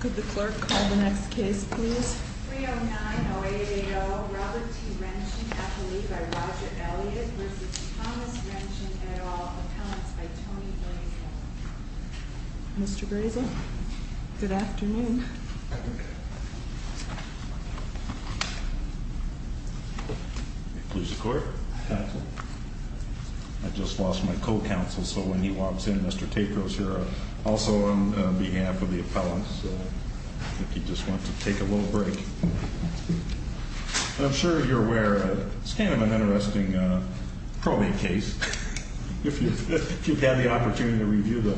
Could the clerk call the next case please? 30908AO Robert T. Renchen, athlete by Roger Elliott v. Thomas Renchen, et al. Appellants by Tony Grazian. Mr. Grazian, good afternoon. Please record. I just lost my co-counsel, so when he walks in, Mr. Takos here. Also on behalf of the appellants. If you just want to take a little break. I'm sure you're aware, it's kind of an interesting probate case. If you've had the opportunity to review the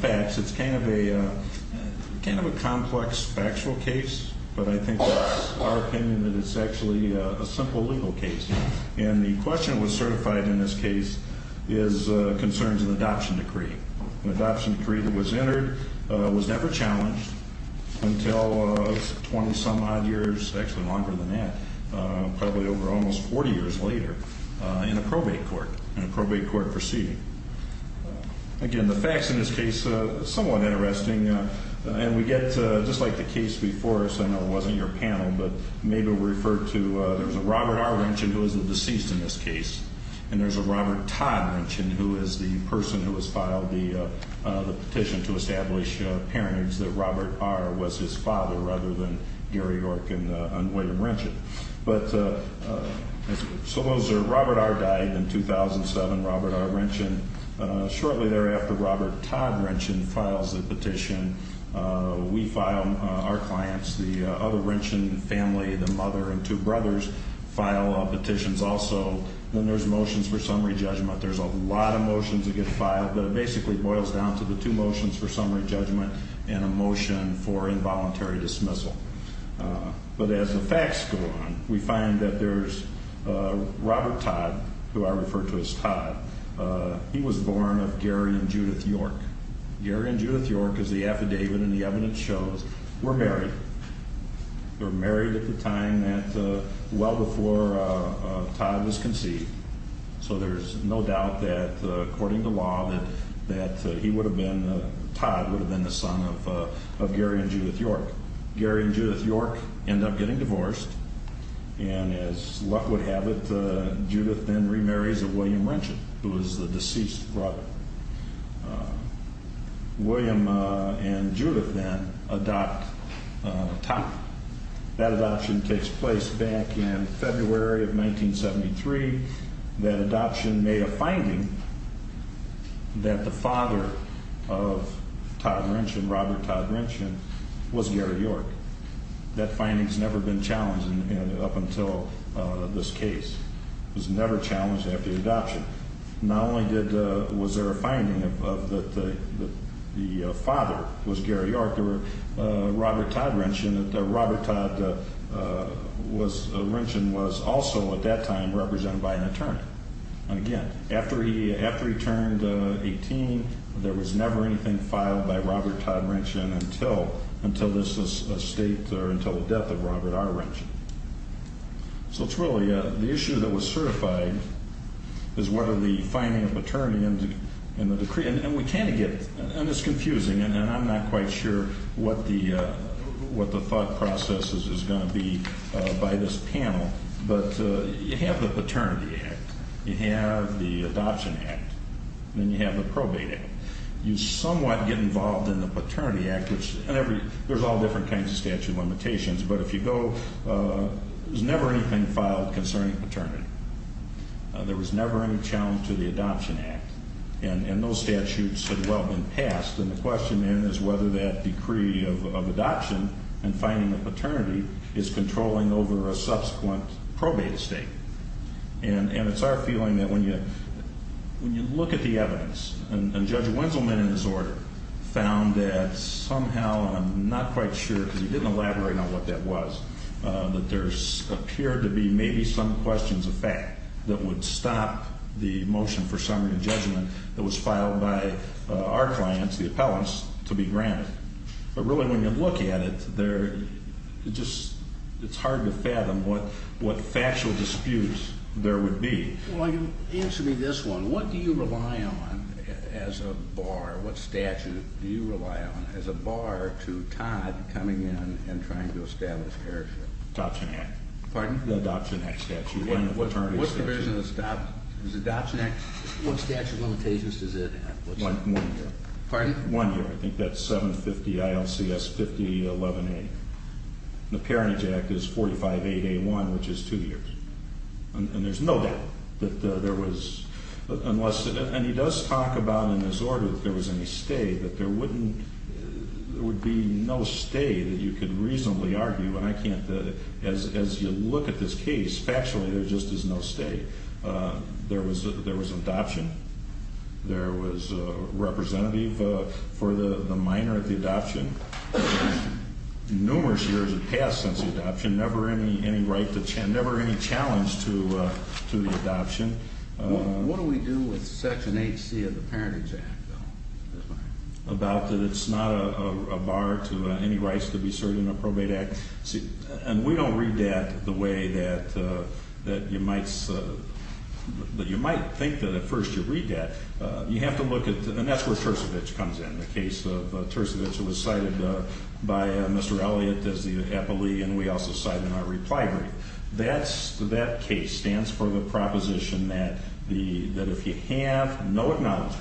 facts, it's kind of a complex factual case. But I think it's our opinion that it's actually a simple legal case. And the question that was certified in this case is concerns an adoption decree. An adoption decree that was entered was never challenged until 20-some odd years, actually longer than that, probably over almost 40 years later in a probate court, in a probate court proceeding. Again, the facts in this case are somewhat interesting. And we get, just like the case before us, I know it wasn't your panel, but maybe it was referred to, there was a Robert R. Renchen who was the deceased in this case. And there's a Robert Todd Renchen who is the person who has filed the petition to establish parentage that Robert R. was his father rather than Gary York and William Renchen. But Robert R. died in 2007, Robert R. Renchen. Shortly thereafter, Robert Todd Renchen files the petition. We file, our clients, the other Renchen family, the mother and two brothers, file petitions also. Then there's motions for summary judgment. There's a lot of motions that get filed, but it basically boils down to the two motions for summary judgment and a motion for involuntary dismissal. But as the facts go on, we find that there's Robert Todd, who I refer to as Todd, he was born of Gary and Judith York. Gary and Judith York, as the affidavit and the evidence shows, were married. They were married at the time that, well before Todd was conceived. So there's no doubt that, according to law, that he would have been, Todd would have been the son of Gary and Judith York. Gary and Judith York end up getting divorced, and as luck would have it, Judith then remarries William Renchen, who is the deceased brother. William and Judith then adopt Todd. That adoption takes place back in February of 1973. That adoption made a finding that the father of Todd Renchen, Robert Todd Renchen, was Gary York. That finding's never been challenged up until this case. It was never challenged after the adoption. Not only was there a finding that the father was Gary York, Robert Todd Renchen was also at that time represented by an attorney. And again, after he turned 18, there was never anything filed by Robert Todd Renchen So it's really, the issue that was certified is whether the finding of paternity in the decree, and we kind of get, and it's confusing, and I'm not quite sure what the thought process is going to be by this panel, but you have the Paternity Act, you have the Adoption Act, and then you have the Probate Act. You somewhat get involved in the Paternity Act, and there's all different kinds of statute limitations, but if you go, there's never anything filed concerning paternity. There was never any challenge to the Adoption Act, and those statutes had well been passed, and the question then is whether that decree of adoption and finding of paternity is controlling over a subsequent probate estate. And it's our feeling that when you look at the evidence, and Judge Winselman, in his order, found that somehow, and I'm not quite sure because he didn't elaborate on what that was, that there appeared to be maybe some questions of fact that would stop the motion for summary of judgment that was filed by our clients, the appellants, to be granted. But really when you look at it, it's hard to fathom what factual disputes there would be. Well, you answered me this one. What do you rely on as a bar? What statute do you rely on as a bar to Todd coming in and trying to establish parenthood? Adoption Act. Pardon? The Adoption Act statute, one of the paternity statutes. What provision does the Adoption Act, what statute limitations does it have? One year. Pardon? One year. I think that's 750 ILCS 5011A. The Parenthood Act is 458A1, which is two years. And there's no doubt that there was, unless, and he does talk about in his order that there was any stay, that there wouldn't, there would be no stay that you could reasonably argue, and I can't, as you look at this case, factually there just is no stay. There was an adoption. There was a representative for the minor at the adoption. Numerous years have passed since the adoption, never any right to, never any challenge to the adoption. What do we do with Section 8C of the Parenthood Act, though? About that it's not a bar to any rights to be served in a probate act? And we don't read that the way that you might think that at first you read that. You have to look at, and that's where Tercevich comes in, the case of Tercevich. It was cited by Mr. Elliott as the appellee, and we also cite it in our reply brief. That case stands for the proposition that if you have no acknowledgement,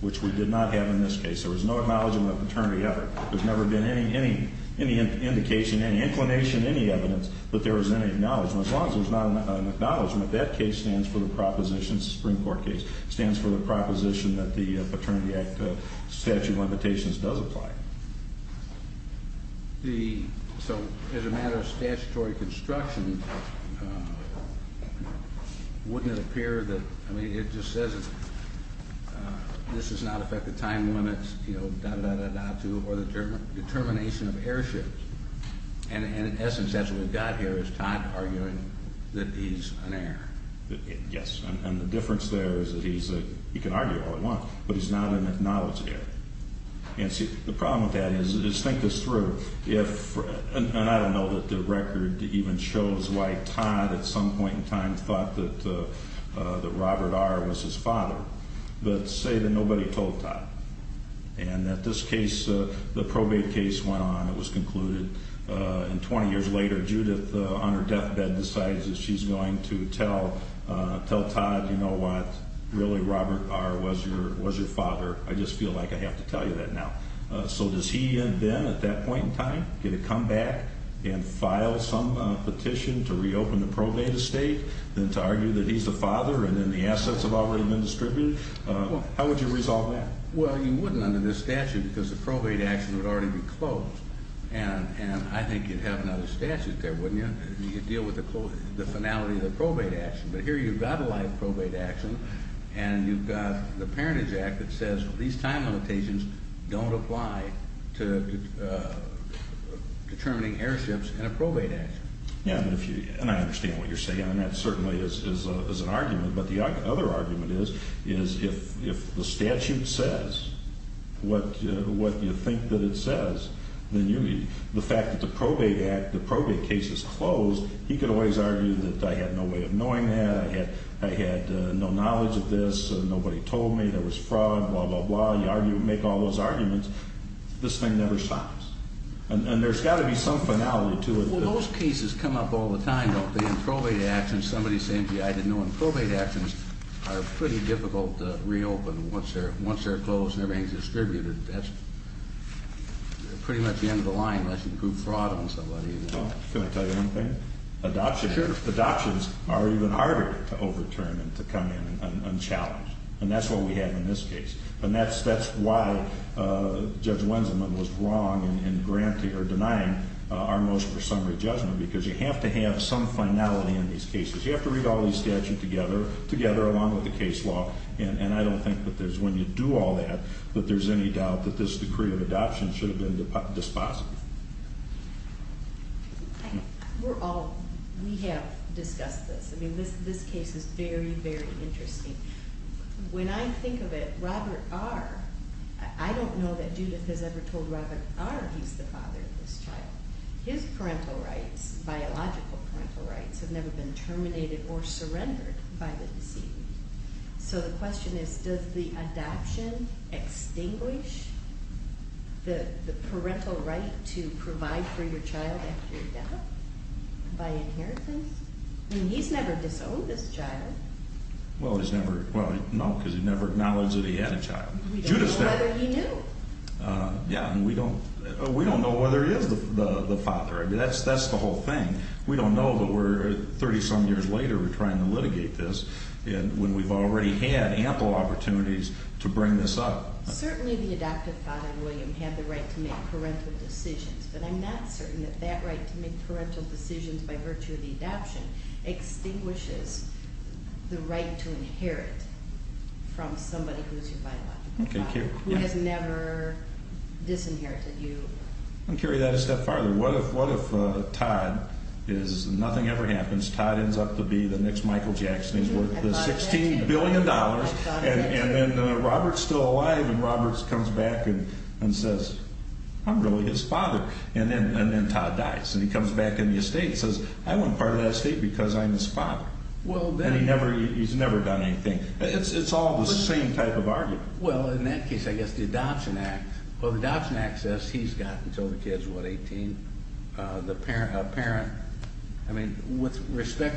which we did not have in this case, there was no acknowledgement of paternity ever. There's never been any indication, any inclination, any evidence that there was any acknowledgement. As long as there's not an acknowledgement, that case stands for the proposition, this is a Supreme Court case, stands for the proposition that the Paternity Act statute of limitations does apply. The, so as a matter of statutory construction, wouldn't it appear that, I mean it just says this does not affect the time limits or the determination of airships. And in essence, that's what we've got here is Todd arguing that he's an heir. Yes, and the difference there is that he's a, he can argue all he wants, but he's not an acknowledged heir. And see, the problem with that is, is think this through. If, and I don't know that the record even shows why Todd at some point in time thought that Robert R. was his father, but say that nobody told Todd. And that this case, the probate case went on, it was concluded, and 20 years later Judith, on her deathbed, decides that she's going to tell, tell Todd, you know what, really Robert R. was your, was your father. I just feel like I have to tell you that now. So does he then, at that point in time, get to come back and file some petition to reopen the probate estate, then to argue that he's the father, and then the assets have already been distributed? How would you resolve that? Well, you wouldn't under this statute because the probate action would already be closed. And I think you'd have another statute there, wouldn't you? You'd deal with the closing, the finality of the probate action. But here you've got a live probate action, and you've got the Parentage Act that says, these time limitations don't apply to determining airships in a probate action. Yeah, and if you, and I understand what you're saying, and that certainly is an argument. But the other argument is, is if the statute says what you think that it says, then you, the fact that the probate act, the probate case is closed, he could always argue that I had no way of knowing that, I had no knowledge of this, nobody told me, there was fraud, blah, blah, blah. You argue, make all those arguments, this thing never stops. And there's got to be some finality to it. Well, those cases come up all the time, don't they? In probate actions, somebody's saying to you, I didn't know in probate actions are pretty difficult to reopen once they're closed and everything's distributed. That's pretty much the end of the line unless you prove fraud on somebody. Can I tell you one thing? Sure. Adoptions are even harder to overturn and to come in unchallenged. And that's what we have in this case. And that's why Judge Wenzelman was wrong in denying our most presumptive judgment, because you have to have some finality in these cases. You have to read all these statutes together, together along with the case law, and I don't think that when you do all that that there's any doubt that this decree of adoption should have been dispositive. We're all, we have discussed this. I mean, this case is very, very interesting. When I think of it, Robert R., I don't know that Judith has ever told Robert R. he's the father of this child. His parental rights, biological parental rights, have never been terminated or surrendered by the deceased. So the question is, does the adoption extinguish the parental right to provide for your child after you adopt? By inheritance? I mean, he's never disowned this child. Well, he's never, well, no, because he never acknowledged that he had a child. We don't know whether he knew. Yeah, and we don't, we don't know whether he is the father. I mean, that's the whole thing. We don't know, but we're, 30-some years later we're trying to litigate this when we've already had ample opportunities to bring this up. Certainly the adoptive father, William, had the right to make parental decisions, but I'm not certain that that right to make parental decisions by virtue of the adoption extinguishes the right to inherit from somebody who's your biological father, who has never disinherited you. Let me carry that a step farther. What if Todd is, nothing ever happens, Todd ends up to be the next Michael Jackson, he's worth the $16 billion, and then Robert's still alive and Robert comes back and says, I'm really his father. And then Todd dies and he comes back in the estate and says, I want part of that estate because I'm his father. And he's never done anything. It's all the same type of argument. Well, in that case, I guess the Adoption Act, well, the Adoption Act says he's got until the kid's, what, 18? A parent, I mean, with respect,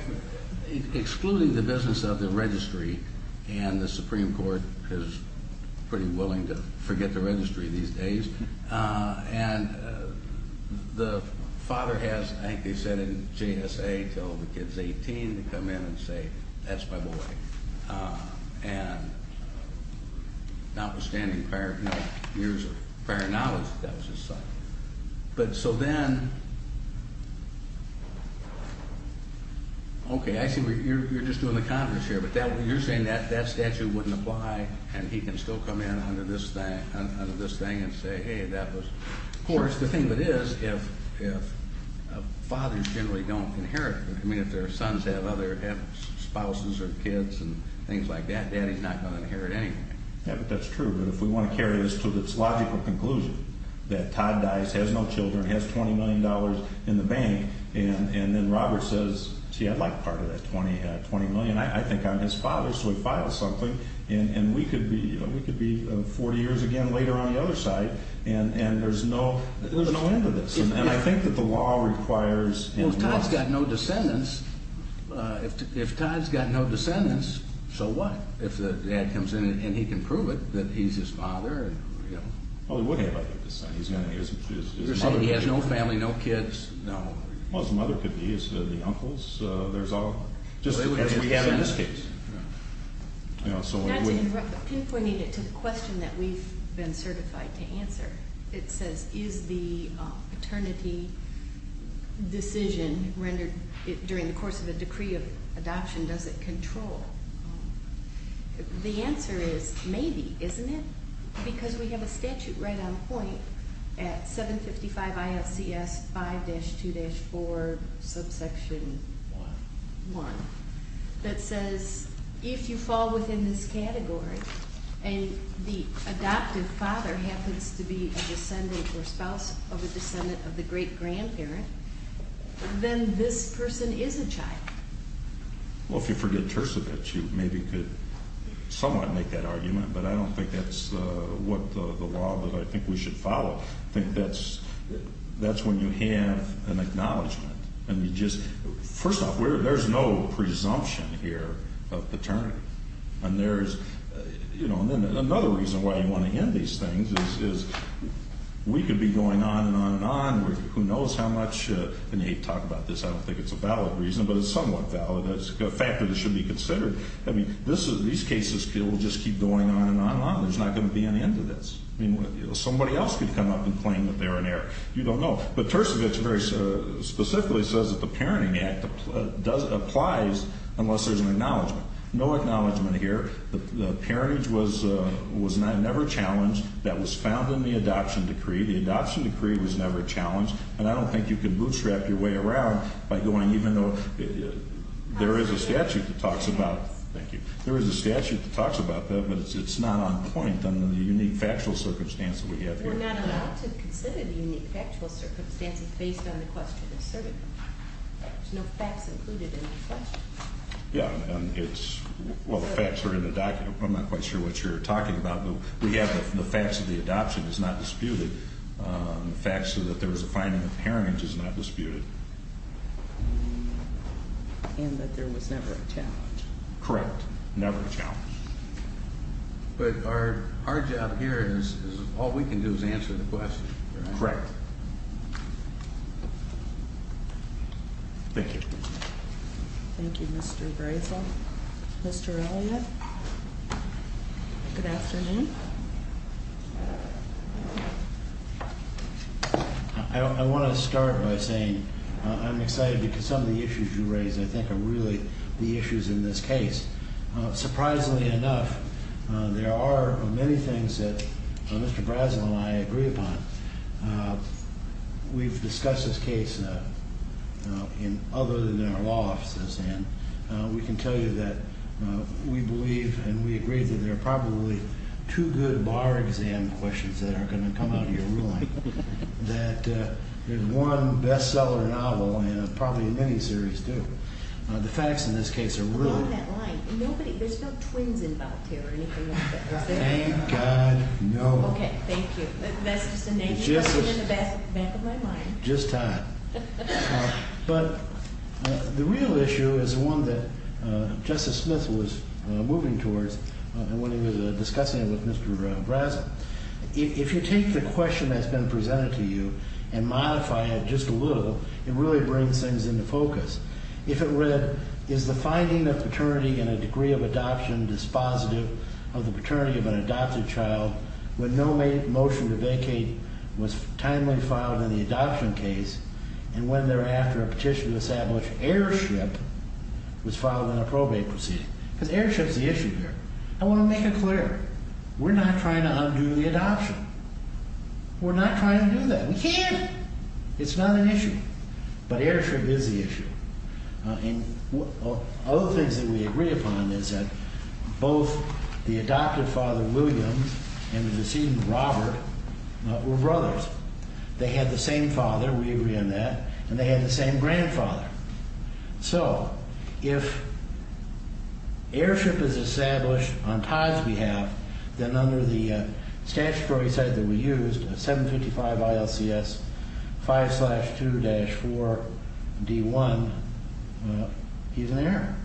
excluding the business of the registry, and the Supreme Court is pretty willing to forget the registry these days. And the father has, I think they said in GSA, until the kid's 18 to come in and say, that's my boy. And notwithstanding prior, you know, years of prior knowledge that that was his son. But, so then, okay, I see you're just doing the confidence here, but you're saying that that statute wouldn't apply and he can still come in under this thing and say, hey, that was, of course, the thing of it is, if fathers generally don't inherit, I mean, if their sons have other spouses or kids and things like that, daddy's not going to inherit anything. Yeah, but that's true. But if we want to carry this to this logical conclusion that Todd dies, has no children, has $20 million in the bank, and then Robert says, gee, I'd like part of that $20 million, I think I'm his father, so he files something, and we could be 40 years again later on the other side, and there's no end to this. And I think that the law requires. Well, if Todd's got no descendants, if Todd's got no descendants, so what? If the dad comes in and he can prove it that he's his father, you know. Well, he would have, I think, his son. You're saying he has no family, no kids? No. Well, his mother could be. His uncles, there's all. Just because we have in this case. Yeah. You know, so when we. Not to interrupt, but pinpointing it to the question that we've been certified to answer, it says, is the paternity decision rendered during the course of a decree of adoption, does it control? The answer is maybe, isn't it? Because we have a statute right on point at 755 ILCS 5-2-4 subsection 1 that says, if you fall within this category and the adoptive father happens to be a descendant or spouse of a descendant of the great-grandparent, then this person is a child. Well, if you forget tercivates, you maybe could somewhat make that argument, but I don't think that's what the law that I think we should follow. I think that's when you have an acknowledgment. First off, there's no presumption here of paternity. And then another reason why you want to end these things is we could be going on and on and on. Who knows how much. And you talk about this. I don't think it's a valid reason, but it's somewhat valid. It's a fact that it should be considered. These cases will just keep going on and on and on. There's not going to be an end to this. Somebody else could come up and claim that they're in error. You don't know. But tercivates very specifically says that the Parenting Act applies unless there's an acknowledgment. No acknowledgment here. The parentage was never challenged. That was found in the adoption decree. The adoption decree was never challenged. And I don't think you can bootstrap your way around by going even though there is a statute that talks about that, but it's not on point under the unique factual circumstance that we have here. We're not allowed to consider the unique factual circumstances based on the question asserted. There's no facts included in the question. Yeah. Well, the facts are in the document. I'm not quite sure what you're talking about, but we have the facts of the adoption is not disputed. The facts that there was a finding of parentage is not disputed. Correct. Never a challenge. But our job here is all we can do is answer the question. Correct. Thank you. Thank you, Mr. Grayson. Mr. Elliott, good afternoon. I want to start by saying I'm excited because some of the issues you raised, I think, are really the issues in this case. Surprisingly enough, there are many things that Mr. Brazel and I agree upon. We've discussed this case in other than our law offices, and we can tell you that we believe and we agree that there are probably two good bar exam questions that are going to come out of your ruling. That there's one bestseller novel and probably a miniseries, too. The facts in this case are really... There's no twins involved here or anything like that, is there? Thank God, no. Okay, thank you. That's just a negative in the back of my mind. Just time. But the real issue is one that Justice Smith was moving towards when he was discussing it with Mr. Brazel. If you take the question that's been presented to you and modify it just a little, it really brings things into focus. If it read, is the finding of paternity in a degree of adoption dispositive of the paternity of an adopted child when no motion to vacate was timely filed in the adoption case, and when thereafter a petition to establish airship was filed in a probate proceeding? Because airship's the issue here. I want to make it clear. We're not trying to undo the adoption. We're not trying to do that. We can't. It's not an issue. But airship is the issue. And other things that we agree upon is that both the adopted father, Williams, and the decedent, Robert, were brothers. They had the same father. We agree on that. And they had the same grandfather. So if airship is established on Todd's behalf, then under the statutory set that we used, 755 ILCS 5-2-4D1, he's an heir.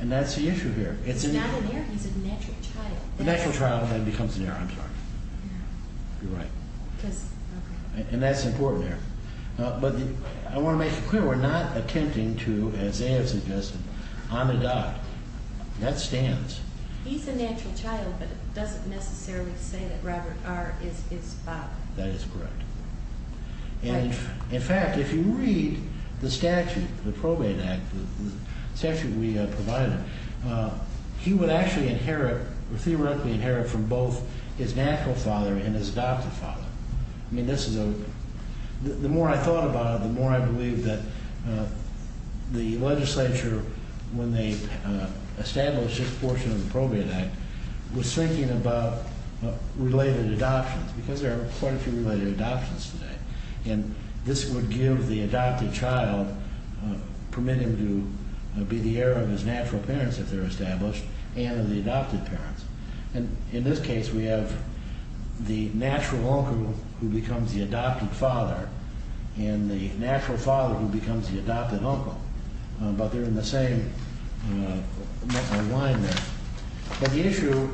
And that's the issue here. He's not an heir. He's a natural child. A natural child then becomes an heir. I'm sorry. You're right. And that's important there. But I want to make it clear. We're not attempting to, as Zaev suggested, unadopt. That stands. He's a natural child, but it doesn't necessarily say that Robert R. is his father. That is correct. And, in fact, if you read the statute, the probate act, the statute we provided, he would actually inherit or theoretically inherit from both his natural father and his adopted father. The more I thought about it, the more I believed that the legislature, when they established this portion of the probate act, was thinking about related adoptions because there are quite a few related adoptions today. And this would give the adopted child, permit him to be the heir of his natural parents if they're established and of the adopted parents. And in this case, we have the natural uncle who becomes the adopted father and the natural father who becomes the adopted uncle. But they're in the same alignment. But the issue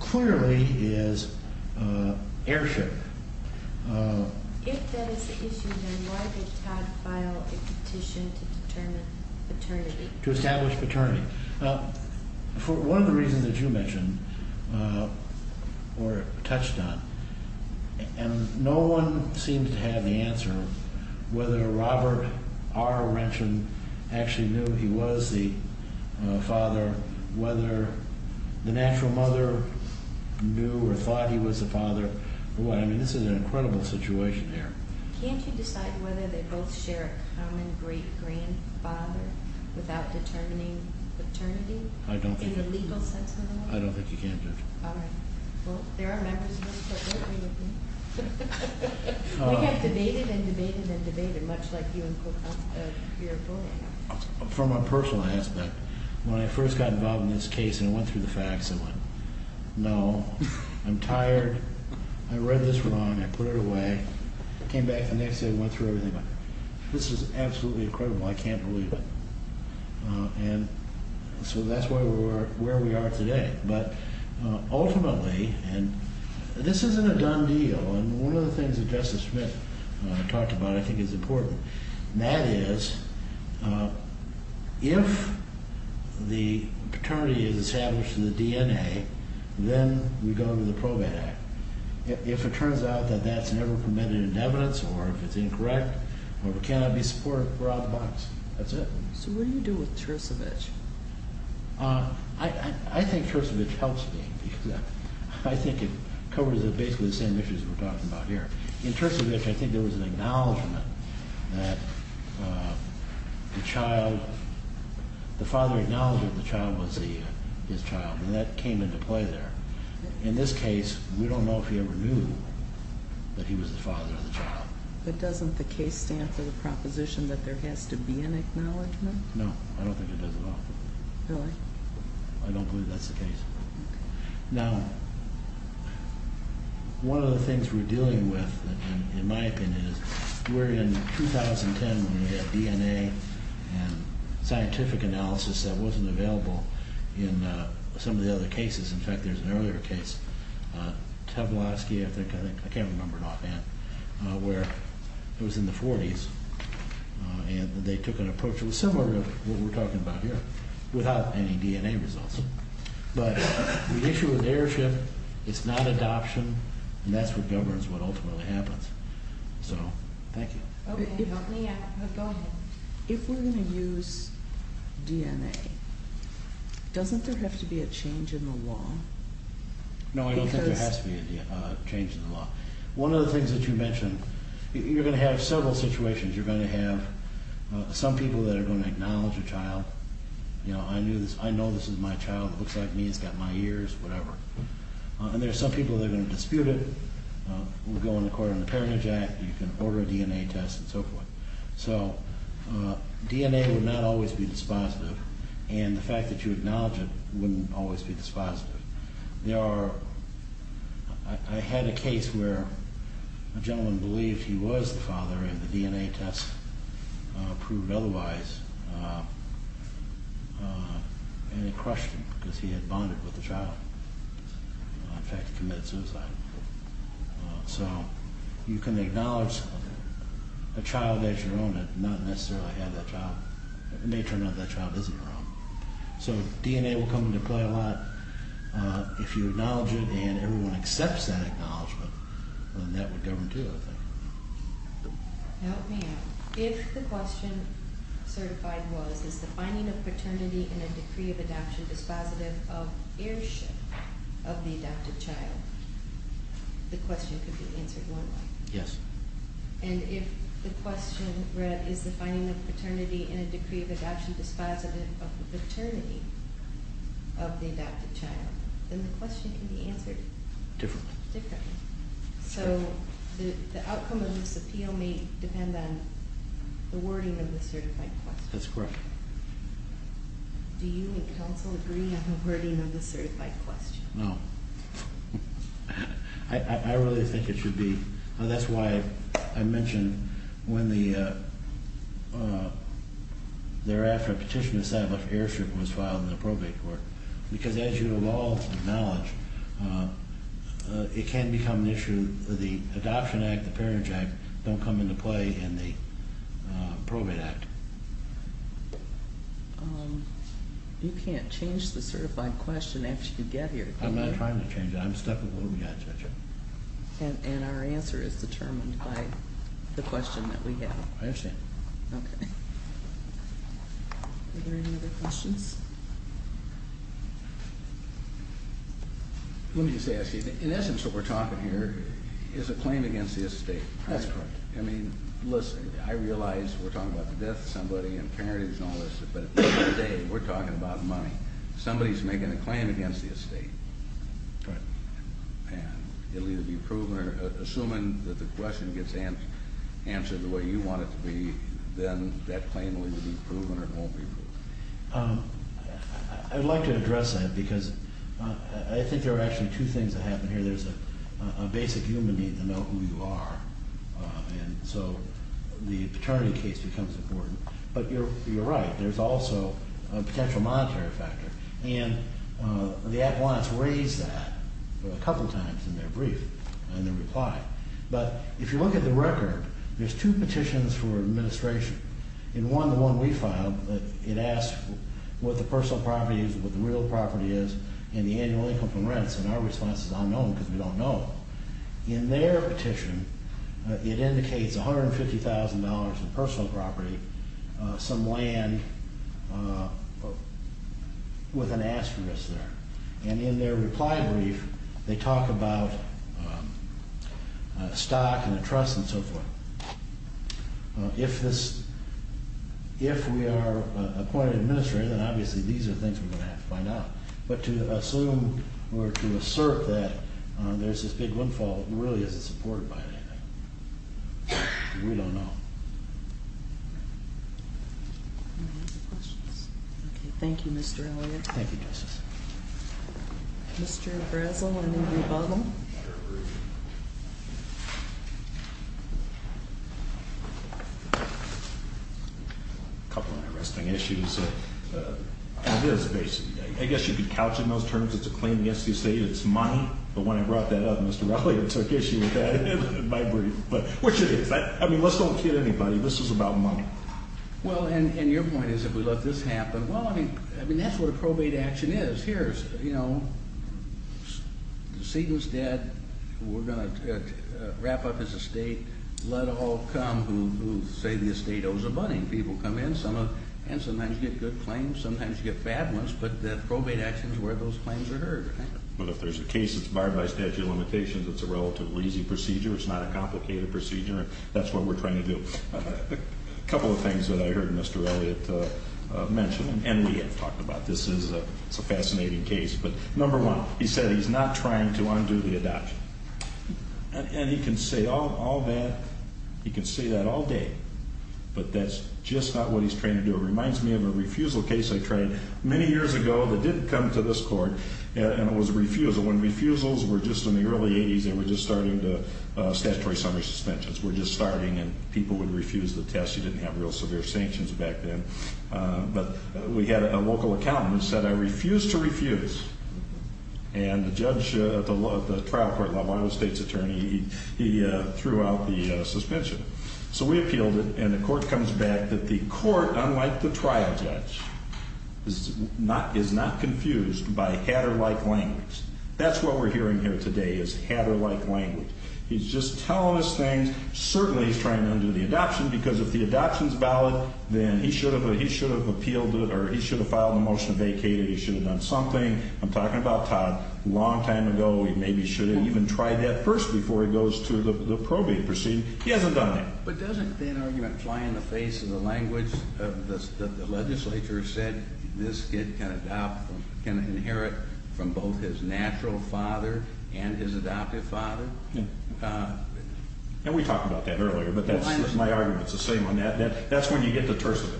clearly is heirship. If that is the issue, then why did Todd file a petition to determine paternity? To establish paternity. One of the reasons that you mentioned or touched on, and no one seems to have the answer, whether Robert R. Renton actually knew he was the father, whether the natural mother knew or thought he was the father. I mean, this is an incredible situation here. Can't you decide whether they both share a common great-grandfather without determining paternity? I don't think you can. In the legal sense of the word? I don't think you can, Judge. All right. Well, there are members of this court working with me. We have debated and debated and debated, much like you and Cook have your ruling. From a personal aspect, when I first got involved in this case and went through the facts, I went, no, I'm tired, I read this wrong, I put it away. I came back the next day and went through everything. This is absolutely incredible. I can't believe it. And so that's where we are today. But ultimately, and this isn't a done deal, and one of the things that Justice Smith talked about I think is important. That is, if the paternity is established in the DNA, then we go to the Probate Act. If it turns out that that's never prevented in evidence or if it's incorrect or cannot be supported, we're out of the box. That's it. So what do you do with Tersevich? I think Tersevich helps me. I think it covers basically the same issues we're talking about here. In Tersevich, I think there was an acknowledgment that the father acknowledged that the child was his child, and that came into play there. In this case, we don't know if he ever knew that he was the father of the child. But doesn't the case stand for the proposition that there has to be an acknowledgment? No, I don't think it does at all. Really? I don't believe that's the case. Now, one of the things we're dealing with, in my opinion, is we're in 2010 when we had DNA and scientific analysis that wasn't available in some of the other cases. In fact, there's an earlier case, Tablowski, I think, I can't remember it offhand, where it was in the 40s, and they took an approach that was similar to what we're talking about here without any DNA results. But the issue with airship, it's not adoption, and that's what governs what ultimately happens. So, thank you. If we're going to use DNA, doesn't there have to be a change in the law? No, I don't think there has to be a change in the law. One of the things that you mentioned, you're going to have several situations. You're going to have some people that are going to acknowledge a child. I know this is my child. It looks like me. It's got my ears, whatever. And there are some people that are going to dispute it. We'll go into court on the Parentage Act. You can order a DNA test and so forth. So, DNA would not always be dispositive, and the fact that you acknowledge it wouldn't always be dispositive. I had a case where a gentleman believed he was the father, and the DNA test proved otherwise, and it crushed him because he had bonded with the child. In fact, he committed suicide. So, you can acknowledge a child as your own and not necessarily have that child. It may turn out that child isn't your own. So, DNA will come into play a lot. If you acknowledge it and everyone accepts that acknowledgement, then that would govern, too, I think. Help me out. If the question certified was, is the finding of paternity in a decree of adoption dispositive of heirship of the adopted child, the question could be answered one way. Yes. And if the question read, is the finding of paternity in a decree of adoption dispositive of the paternity of the adopted child, then the question could be answered differently. So, the outcome of this appeal may depend on the wording of the certified question. That's correct. Do you and counsel agree on the wording of the certified question? No. I really think it should be. That's why I mentioned when the thereafter petition to establish heirship was filed in the probate court. Because as you have all acknowledged, it can become an issue. The adoption act, the parentage act don't come into play in the probate act. You can't change the certified question after you get here. I'm not trying to change it. I'm stuck with what we got, Judge. And our answer is determined by the question that we have. I understand. Okay. Are there any other questions? Let me just ask you. In essence, what we're talking here is a claim against the estate. That's correct. I mean, listen, I realize we're talking about the death of somebody and parentage and all this. But at the end of the day, we're talking about money. Somebody is making a claim against the estate. Right. And it will either be proven or, assuming that the question gets answered the way you want it to be, then that claim will either be proven or it won't be proven. I'd like to address that because I think there are actually two things that happen here. There's a basic human need to know who you are. And so the paternity case becomes important. But you're right. There's also a potential monetary factor. And the appliance raised that a couple times in their brief and their reply. But if you look at the record, there's two petitions for administration. In one, the one we filed, it asks what the personal property is, what the real property is, and the annual income from rents. And our response is unknown because we don't know. In their petition, it indicates $150,000 in personal property, some land with an asterisk there. And in their reply brief, they talk about stock and a trust and so forth. If we are appointed administrator, then obviously these are things we're going to have to find out. But to assume or to assert that there's this big windfall really isn't supported by anything. We don't know. Thank you, Mr. Elliott. Thank you, Justice. Mr. Bresl and then Mr. Bottle. A couple of interesting issues. It is basically. I guess you could couch it in those terms. It's a claim against the estate. It's money. But when I brought that up, Mr. Rallier took issue with that in my brief. But which it is. I mean, let's don't kid anybody. This is about money. Well, and your point is if we let this happen. Well, I mean, that's what a probate action is. Here's, you know, the seat was dead. We're going to wrap up this estate. Let all come who say the estate owes them money. People come in. And sometimes you get good claims. Sometimes you get bad ones. But the probate action is where those claims are heard. But if there's a case that's barred by statute of limitations, it's a relatively easy procedure. It's not a complicated procedure. That's what we're trying to do. A couple of things that I heard Mr. Elliott mention. And we have talked about this. It's a fascinating case. But number one, he said he's not trying to undo the adoption. And he can say all that. He can say that all day. But that's just not what he's trying to do. It reminds me of a refusal case I tried many years ago that didn't come to this court. And it was a refusal. When refusals were just in the early 80s, they were just starting to statutory summary suspensions were just starting. And people would refuse the test. You didn't have real severe sanctions back then. But we had a local accountant who said, I refuse to refuse. And the judge at the trial court level, Iowa State's attorney, he threw out the suspension. So we appealed it. And the court comes back that the court, unlike the trial judge, is not confused by Hatter-like language. That's what we're hearing here today is Hatter-like language. He's just telling us things. Certainly he's trying to undo the adoption. Because if the adoption's valid, then he should have appealed it or he should have filed a motion to vacate it. He should have done something. I'm talking about Todd. A long time ago, he maybe should have even tried that first before he goes to the probate proceeding. He hasn't done that. But doesn't that argument fly in the face of the language that the legislature said this kid can adopt, can inherit from both his natural father and his adoptive father? And we talked about that earlier. But that's my argument. It's the same on that. That's when you get to Tercevich.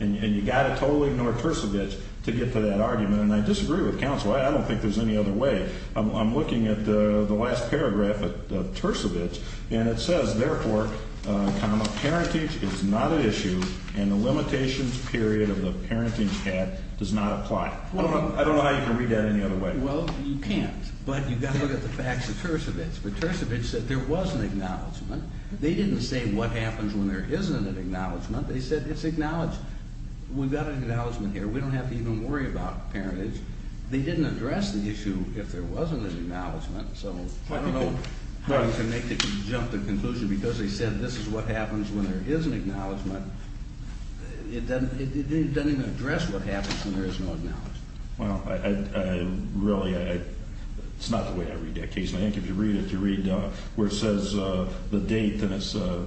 And you've got to totally ignore Tercevich to get to that argument. And I disagree with counsel. I don't think there's any other way. I'm looking at the last paragraph of Tercevich, and it says, therefore, comma, parentage is not an issue, and the limitations period of the parentage act does not apply. I don't know how you can read that any other way. Well, you can't. But you've got to look at the facts of Tercevich. But Tercevich said there was an acknowledgment. They didn't say what happens when there isn't an acknowledgment. They said it's acknowledged. We've got an acknowledgment here. We don't have to even worry about parentage. They didn't address the issue if there wasn't an acknowledgment. So I don't know how you can make the jump to conclusion because they said this is what happens when there is an acknowledgment. It doesn't even address what happens when there is no acknowledgment. Well, really, it's not the way I read that case. I think if you read it, you read where it says the date, and it's the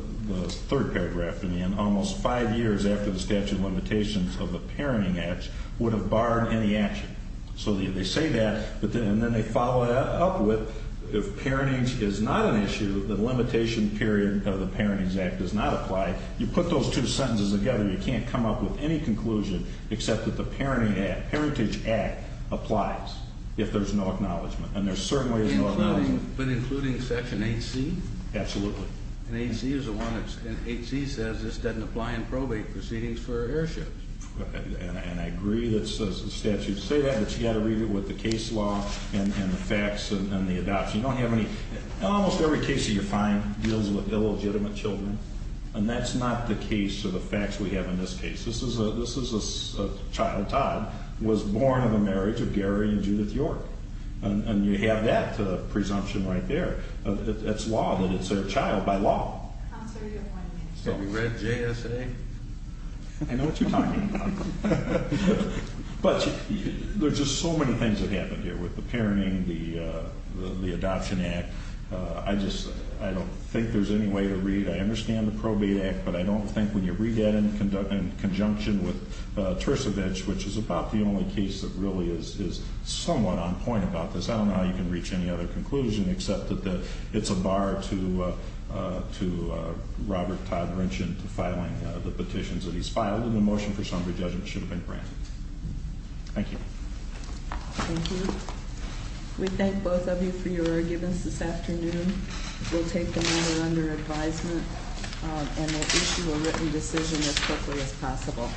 third paragraph in the end. Almost five years after the statute of limitations of the Parenting Act would have barred any action. So they say that, and then they follow that up with if parentage is not an issue, the limitation period of the Parenting Act does not apply. You put those two sentences together, you can't come up with any conclusion except that the Parenting Act, Parentage Act, applies if there's no acknowledgment. But including Section 8C? Absolutely. And 8C says this doesn't apply in probate proceedings for airships. And I agree that the statute says that, but you've got to read it with the case law and the facts and the adoption. Almost every case that you find deals with illegitimate children, and that's not the case or the facts we have in this case. This is a child, Todd, was born in the marriage of Gary and Judith York. And you have that presumption right there. It's law that it's their child by law. Counselor, do you have one minute? Have you read JSA? I know what you're talking about. But there's just so many things that happen here with the parenting, the adoption act. I just, I don't think there's any way to read. I understand the Probate Act, but I don't think when you read that in conjunction with Tercevich, which is about the only case that really is somewhat on point about this. I don't know how you can reach any other conclusion except that it's a bar to Robert Todd Rinchin to filing the petitions that he's filed. And the motion for summary judgment should have been granted. Thank you. Thank you. We thank both of you for your arguments this afternoon. We'll take the matter under advisement and we'll issue a written decision as quickly as possible.